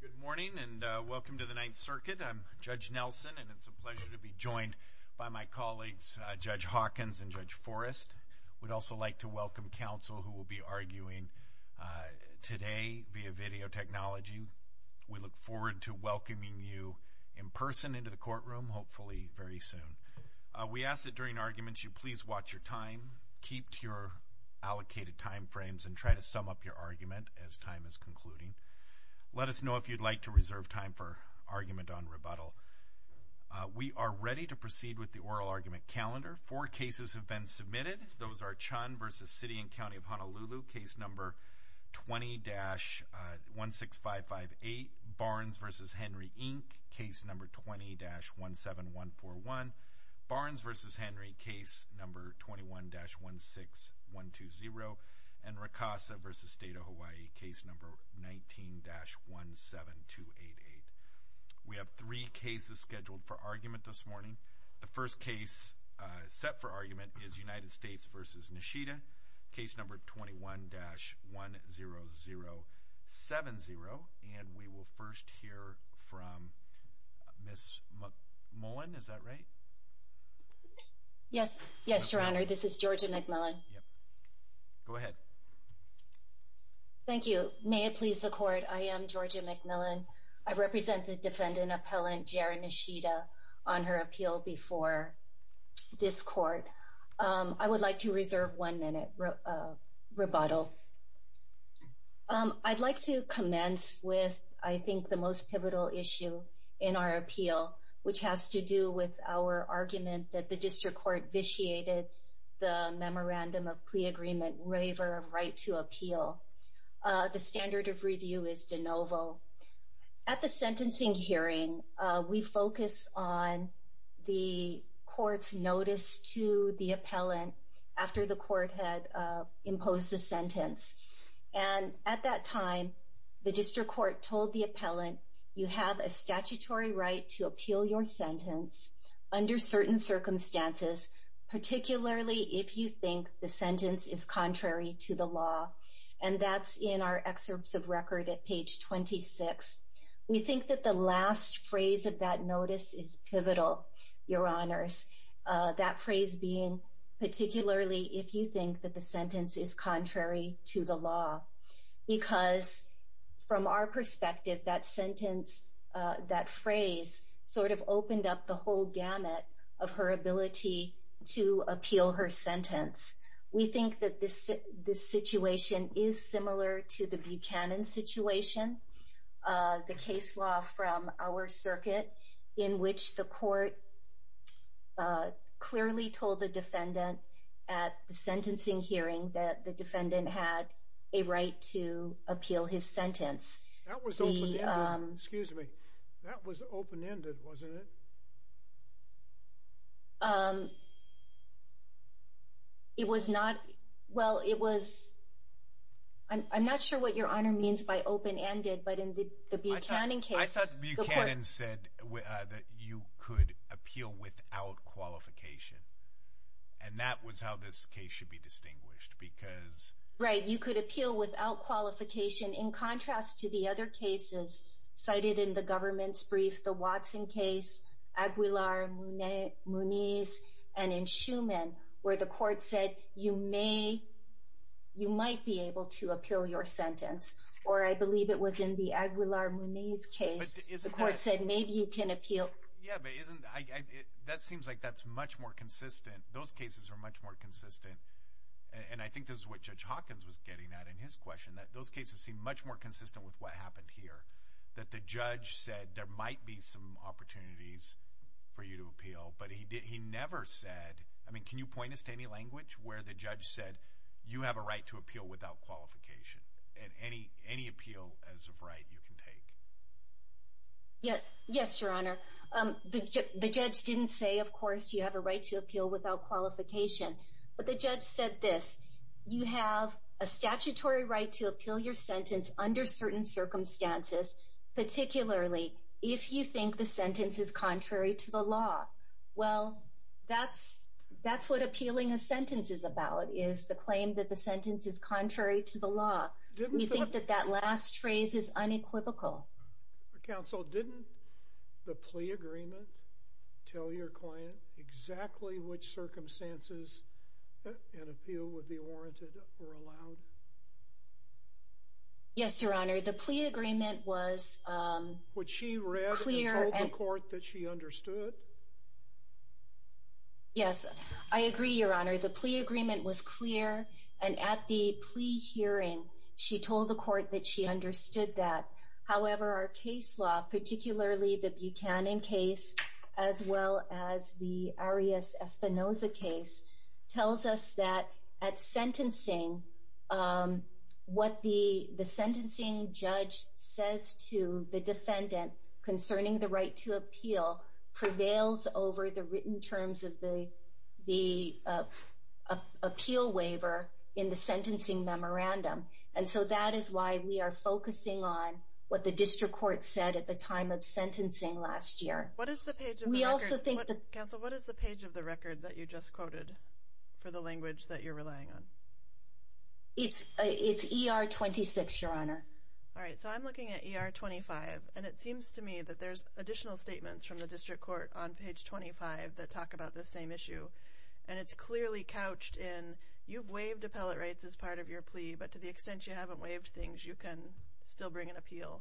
Good morning and welcome to the Ninth Circuit. I'm Judge Nelson and it's a pleasure to be joined by my colleagues Judge Hawkins and Judge Forrest. We'd also like to welcome counsel who will be arguing today via video technology. We look forward to welcoming you in person into the courtroom, hopefully very soon. We ask that during arguments you please watch your time, keep to your allocated time frames, and try to sum up your argument as time is concluding. Let us know if you'd like to reserve time for argument on rebuttal. We are ready to proceed with the oral argument calendar. Four cases have been submitted. Those are Chun v. City and County of Honolulu, case number 20-16558. Barnes v. Henry, Inc., case number 20-17141. Barnes v. Henry, case number 21-16120. And Ricasa v. State of Hawaii, case number 19-17288. We have three cases scheduled for argument this morning. The first case set for argument is United States v. Nishida, case number 21-10070. And we will first hear from Ms. McMillan. Is that right? Yes. Yes, Your Honor. This is Georgia McMillan. Go ahead. Thank you. May it please the Court, I am Georgia McMillan. I represent the defendant appellant Jeri Nishida on her appeal before this Court. I would like to reserve one minute rebuttal. Okay. I'd like to commence with, I think, the most pivotal issue in our appeal, which has to do with our argument that the District Court vitiated the memorandum of plea agreement waiver of right to appeal. The standard of review is de novo. At the sentencing hearing, we focus on the Court's notice to the appellant after the Court had imposed the sentence. And at that time, the District Court told the appellant, you have a statutory right to appeal your sentence under certain circumstances, particularly if you think the sentence is contrary to the law. And that's in our excerpts of record at page 26. We think that the last phrase of that notice is pivotal, Your Honors. That phrase being, particularly if you think that the sentence is contrary to the law. Because from our perspective, that sentence, that phrase sort of opened up the whole gamut of her ability to appeal her sentence. We have a case law from our circuit in which the Court clearly told the defendant at the sentencing hearing that the defendant had a right to appeal his sentence. That was open-ended. Excuse me. That was open-ended, wasn't it? It was not. Well, it was. I'm not sure what Your Honor means by open-ended, but in the Buchanan case... I thought Buchanan said that you could appeal without qualification. And that was how this case should be distinguished, because... Right, you could appeal without qualification in contrast to the other cases cited in the government's brief, the Watson case, Aguilar-Muniz, and in Schuman, where the Court said you may, you might be able to appeal your sentence. Or I believe it was in the Aguilar-Muniz case, the Court said maybe you can appeal... Yeah, but isn't... That seems like that's much more consistent. Those cases are much more consistent. And I think this is what Judge Hawkins was getting at in his question, that those cases seem much more consistent with what happened here. That the judge said there might be some opportunities for you to appeal, but he never said... I mean, can you point us to any language where the judge said you have a right to appeal without qualification, and any appeal as of right you can take? Yes, Your Honor. The judge didn't say, of course, you have a right to appeal without qualification. But the judge said this, you have a statutory right to appeal your sentence under certain circumstances, particularly if you think the sentence is contrary to the is the claim that the sentence is contrary to the law. We think that that last phrase is unequivocal. Counsel, didn't the plea agreement tell your client exactly which circumstances an appeal would be warranted or allowed? Yes, Your Honor. The plea agreement was... Which she read and told the Court that she was clear, and at the plea hearing, she told the Court that she understood that. However, our case law, particularly the Buchanan case, as well as the Arias-Espinoza case, tells us that at sentencing, what the sentencing judge says to the defendant concerning the appeal waiver in the sentencing memorandum. And so that is why we are focusing on what the district court said at the time of sentencing last year. What is the page of the record that you just quoted for the language that you're relying on? It's ER 26, Your Honor. All right. So I'm looking at ER 25, and it seems to me that there's additional statements from the district court on page 25 that talk about this same issue. And it's clearly couched in, you've waived appellate rights as part of your plea, but to the extent you haven't waived things, you can still bring an appeal.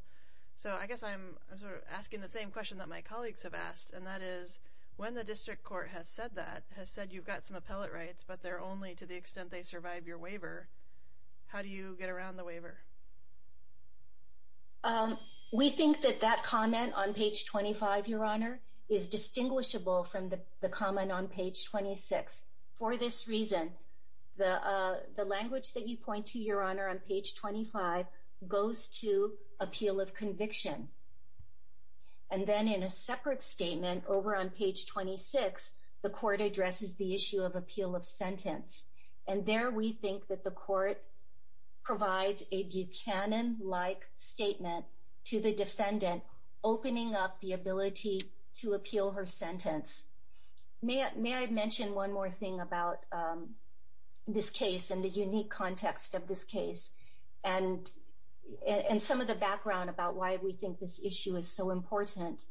So I guess I'm sort of asking the same question that my colleagues have asked, and that is, when the district court has said that, has said you've got some appellate rights, but they're only to the extent they survive your waiver, how do you get around the waiver? We think that that comment on page 25, Your Honor, is distinguishable from the comment on page 26. For this reason, the language that you point to, Your Honor, on page 25 goes to appeal of conviction. And then in a separate statement over on page 26, the court addresses the issue of appeal of sentence. And there we think that the court provides a Buchanan-like statement to the defendant, opening up the ability to appeal her sentence. May I mention one more thing about this case and the unique context of this case, and some of the background about why we think this issue is so important.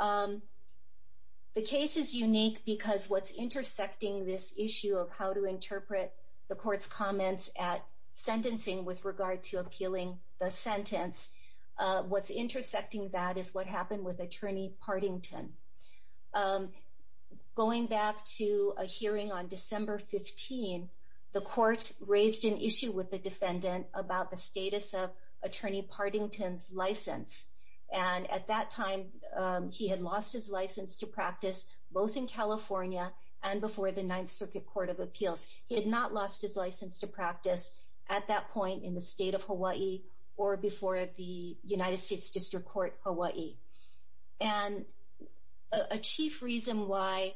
The case is unique because what's intersecting this issue of how to interpret the court's comments at sentencing with regard to appealing the sentence, what's intersecting that is what happened with Attorney Pardington. Going back to a hearing on December 15, the court raised an issue with the defendant about the status of Attorney Pardington's license. And at that time, he had lost his license to practice both in California and before the Ninth Circuit Court of Appeals. He had not lost his license to practice at that point in the state of Hawaii or before the United States District Court Hawaii. And a chief reason why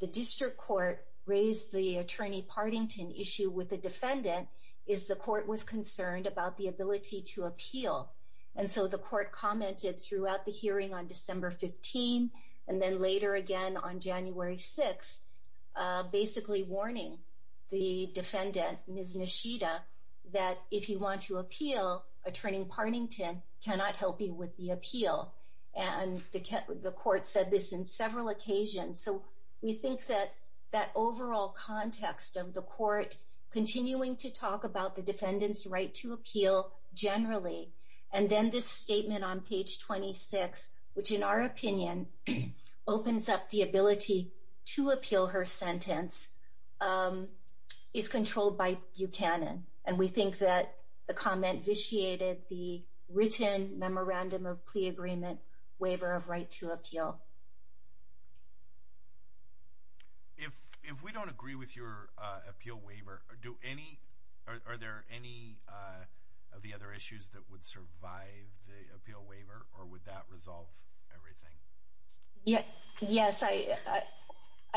the district court raised the Attorney Pardington issue with the defendant is the court was concerned about the ability to appeal. And so the court commented throughout the hearing on December 15, and then later again on January 6, basically warning the defendant that if you want to appeal, Attorney Pardington cannot help you with the appeal. And the court said this in several occasions. So we think that that overall context of the court continuing to talk about the defendant's right to appeal generally, and then this statement on page 26, which in our opinion opens up the ability to appeal her sentence, is controlled by Buchanan. And we think that the comment vitiated the written memorandum of plea agreement waiver of right to appeal. If we don't agree with your appeal waiver, are there any of the other issues that would survive the appeal waiver, or would that resolve everything? Yes, I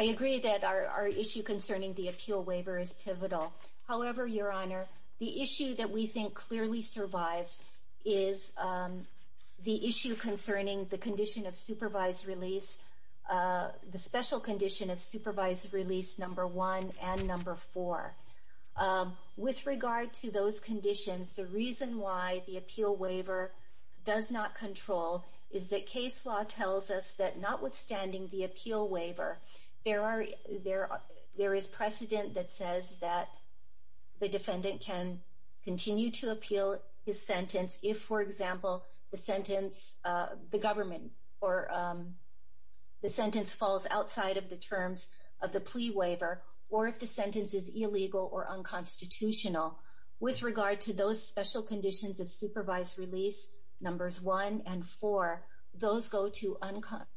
agree that our issue concerning the appeal waiver is pivotal. However, Your Honor, the issue that we think clearly survives is the issue concerning the condition of supervised release, the special condition of supervised release number one and number four. With regard to those conditions, the reason why the appeal waiver does not control is that case law tells us that notwithstanding the appeal waiver, there is precedent that says that the defendant can continue to appeal his sentence if, for example, the sentence, the government, or the sentence falls outside of the terms of the plea waiver, or if the sentence is illegal or unconstitutional. With regard to those special conditions of supervised release numbers one and four, those go to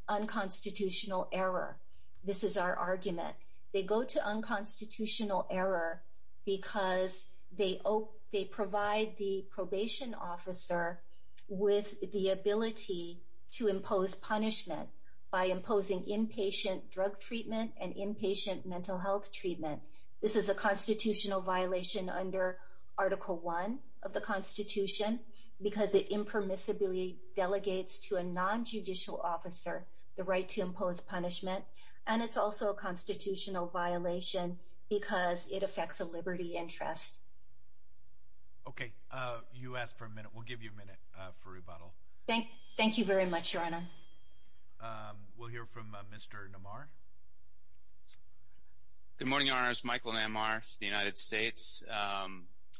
unconstitutional error. This is our argument. They go to unconstitutional error because they provide the probation officer with the ability to impose punishment by imposing inpatient drug treatment and inpatient mental health treatment. This is a constitutional violation under Article One of the Constitution because it impermissibly delegates to a non-judicial officer the right to impose punishment, and it's also a constitutional violation because it affects a liberty interest. Okay, you asked for a minute. We'll give you a minute for Mr. Namar. Good morning, Your Honors. Michael Namar, United States.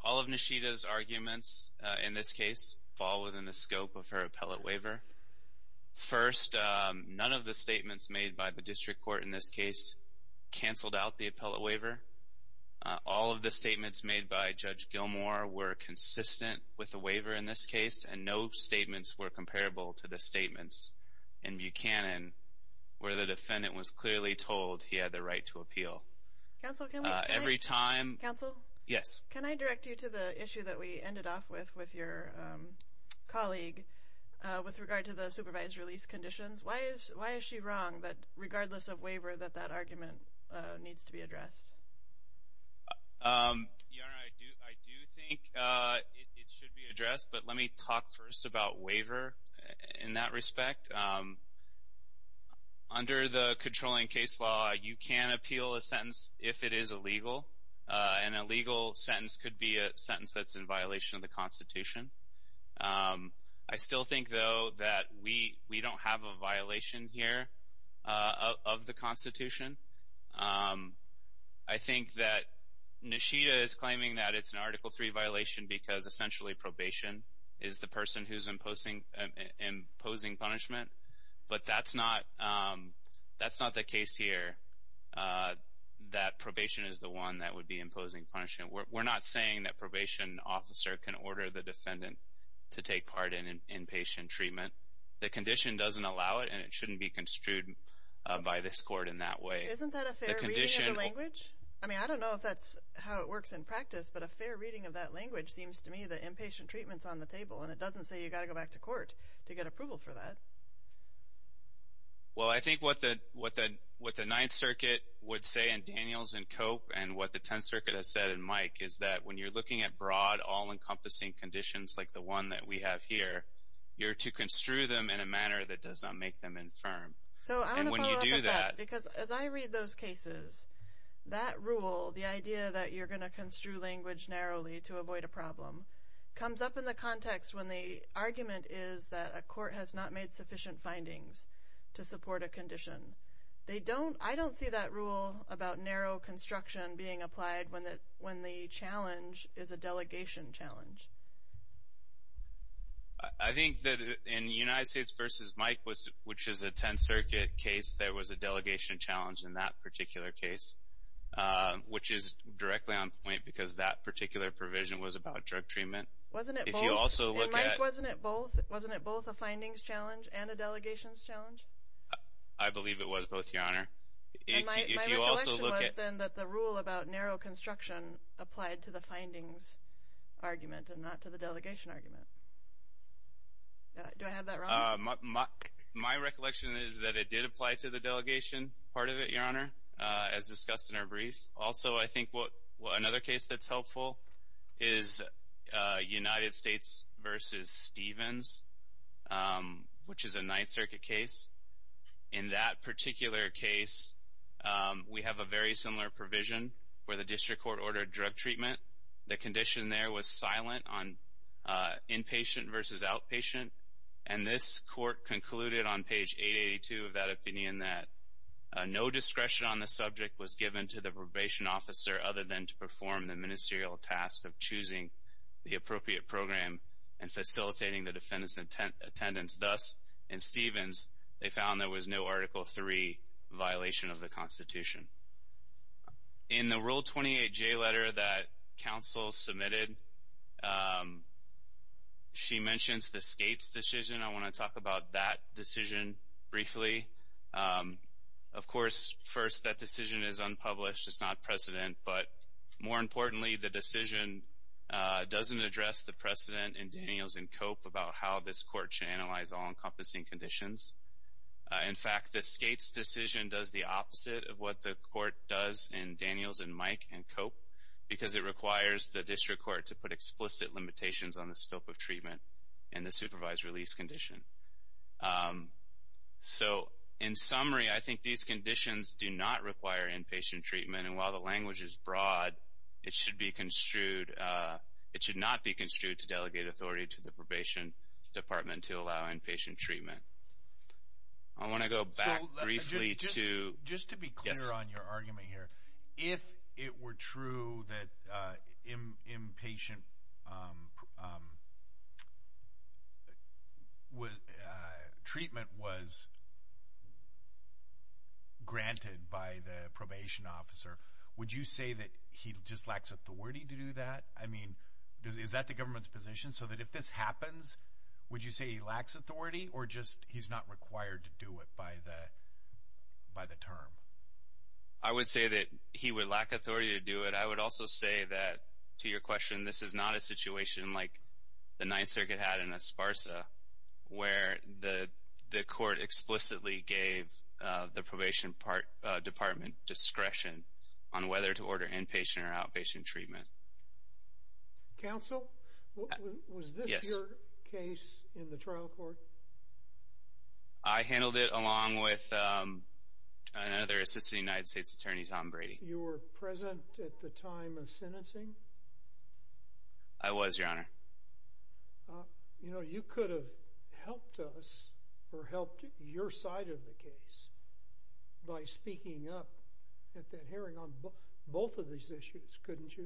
All of Nishita's arguments in this case fall within the scope of her appellate waiver. First, none of the statements made by the district court in this case canceled out the appellate waiver. All of the statements made by Judge Gilmour were consistent with the waiver in this case, and no statements were comparable to the statements in Buchanan where the defendant was clearly told he had the right to appeal. Counsel, can I... Every time... Counsel? Yes. Can I direct you to the issue that we ended off with with your colleague with regard to the supervised release conditions? Why is she wrong that regardless of waiver that that argument needs to be addressed? Your Honor, I do think it should be addressed, but let me talk first about waiver in that respect. Under the controlling case law, you can appeal a sentence if it is illegal, and a legal sentence could be a sentence that's in violation of the Constitution. I still think, though, that we don't have a violation here of the Constitution. I do think that Nishida is claiming that it's an Article III violation because essentially probation is the person who's imposing punishment, but that's not the case here, that probation is the one that would be imposing punishment. We're not saying that probation officer can order the defendant to take part in inpatient treatment. The condition doesn't allow it, and it shouldn't be construed by this Court in that way. Isn't that a fair reading of the language? I mean, I don't know if that's how it works in practice, but a fair reading of that language seems to me that inpatient treatment's on the table, and it doesn't say you've got to go back to court to get approval for that. Well, I think what the Ninth Circuit would say in Daniels and Cope and what the Tenth Circuit has said in Mike is that when you're looking at broad, all-encompassing conditions like the one that we have here, you're to construe them in a manner that does not make them infirm. And when you do that... So I want to follow up with that, because as I read those cases, that rule, the idea that you're going to construe language narrowly to avoid a problem, comes up in the context when the argument is that a court has not made sufficient findings to support a condition. I don't see that rule about narrow construction being applied when the challenge is a delegation challenge. I think that in United States v. Mike, which is a Tenth Circuit case, there was a delegation challenge in that particular case, which is directly on point because that particular provision was about drug treatment. Wasn't it both? And Mike, wasn't it both a findings challenge and a delegations challenge? I believe it was both, Your Honor. My recollection was then that the rule about narrow construction applied to the findings argument and not to the delegation argument. Do I have that wrong? My recollection is that it did apply to the delegation part of it, Your Honor, as discussed in our brief. Also, I think another case that's helpful is United States v. Stevens, which is a Ninth Circuit case. In that particular case, we have a very similar provision where the district court ordered drug treatment. The condition there was silent on inpatient v. outpatient, and this court concluded on page 882 of that opinion that no discretion on the subject was given to the probation officer other than to perform the ministerial task of choosing the appropriate program and facilitating the defendant's attendance. Thus, in Stevens, they found there was no Article III violation of the Constitution. In the Rule 28J letter that counsel submitted, she mentions the state's decision. I want to talk about that decision briefly. Of course, first, that decision is unpublished. It's not precedent, but more importantly, the decision doesn't address the precedent in Daniels and Cope about how this court should analyze all-encompassing conditions. In fact, the state's decision does the opposite of what the court does in Daniels and Mike and Cope because it requires the district court to put explicit limitations on the scope of treatment and the supervised release condition. So, in summary, I think these conditions do not require inpatient treatment, and while the language is broad, it should not be construed to delegate authority to the Probation Department to allow inpatient treatment. I want to go back briefly to... Just to be clear on your argument here, if it were true that inpatient treatment was granted by the probation officer, would you say that he just lacks authority to do that? I mean, is that the government's position so that if this happens, would you say he lacks authority or just he's not required to do it by the term? I would say that he would lack authority to do it. I would also say that, to your question, this is not a situation like the Ninth Circuit had in Esparza where the court explicitly gave the Probation Department discretion on whether to order inpatient or outpatient treatment. Counsel, was this your case in the trial court? I handled it along with another Assistant United States Attorney, Tom Brady. You were present at the time of sentencing? I was, Your Honor. You know, you could have helped us or helped your side of the case by speaking up at that hearing on both of these issues, couldn't you?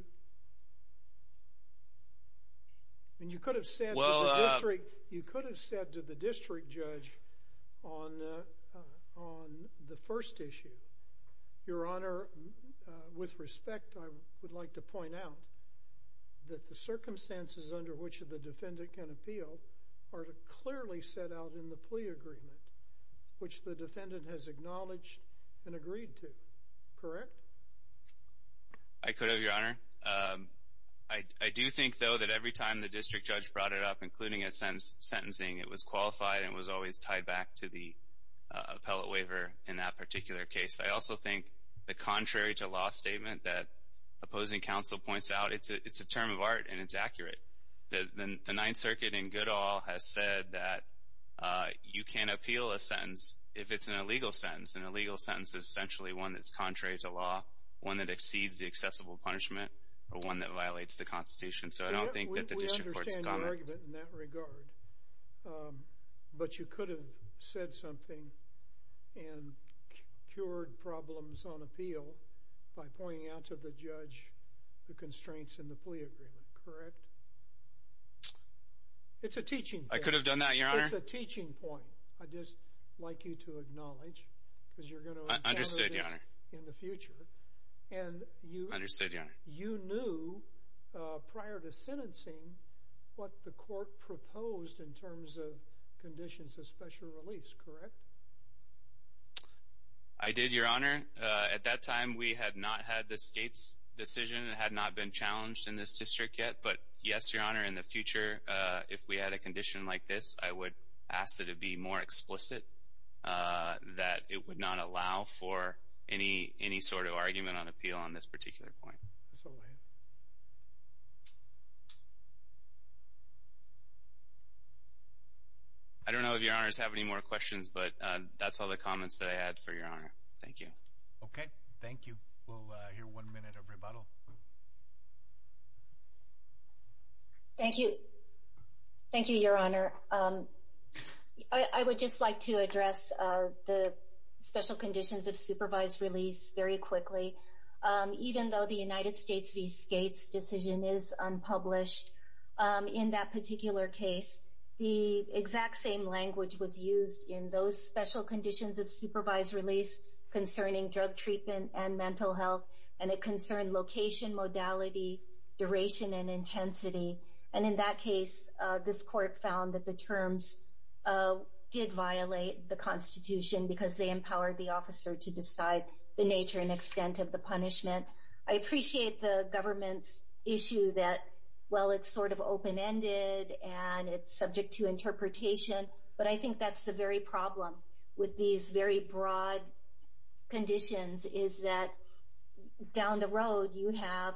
I mean, you could have said to the district judge on the first issue, Your Honor, with respect, I would like to point out that the circumstances under which the defendant can appeal are clearly set out in the plea agreement, which the defendant has acknowledged and agreed to, correct? I could have, Your Honor. I do think, though, that every time the district judge brought it up, including at sentencing, it was qualified and was always tied back to the appellate waiver in that particular case. I also think the contrary to law statement that opposing counsel points out, it's a term of art and it's accurate. The Ninth Circuit in good all has said that you can't appeal a sentence if it's an illegal sentence. An illegal sentence is essentially one that's contrary to law, one that exceeds the accessible punishment, or one that violates the Constitution. So I don't think that the district court's got it. But you could have said something and cured problems on appeal by pointing out to the judge the constraints in the plea agreement, correct? It's a teaching point. I could have done that, Your Honor. It's a teaching point. I'd just like you to acknowledge, because you're going to encounter this in the future. Understood, Your Honor. You knew prior to sentencing what the court proposed in terms of conditions of special release, correct? I did, Your Honor. At that time, we had not had the state's decision. It had not been challenged in this district yet. But yes, Your Honor, in the future, if we had a condition like this, I would ask that it be more explicit, that it would not allow for any sort of argument on appeal on this particular point. I don't know if Your Honors have any more questions, but that's all the comments that I had for Your Honor. Thank you. Okay. Thank you. We'll hear one minute of rebuttal. Thank you. Thank you, Your Honor. I would just like to address the special conditions of supervised release very quickly. Even though the United States v. Skates decision is unpublished, in that particular case, the exact same language was used in those special conditions of supervised release concerning drug treatment and mental health, and it concerned location, modality, duration, and intensity. And in that case, this court found that the terms did violate the Constitution because they empowered the officer to decide the nature and extent of the punishment. I appreciate the government's issue that, well, it's sort of open-ended and it's subject to interpretation, but I think that's the very problem with these very broad conditions is that down the road, you have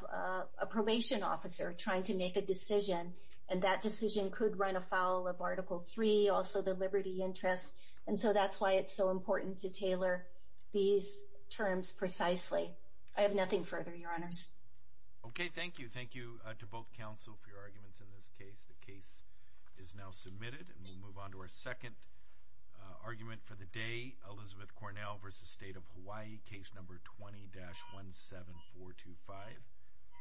a probation officer trying to make a decision, and that decision could run afoul of Article III, also the liberty interest. And so that's why it's so important to tailor these terms precisely. I have nothing further, Your Honors. Okay. Thank you. Thank you to both counsel for your arguments in this case. The case is now submitted, and we'll move on to our second argument for the day, Elizabeth Cornell v. State of Hawaii, Case No. 20-17425.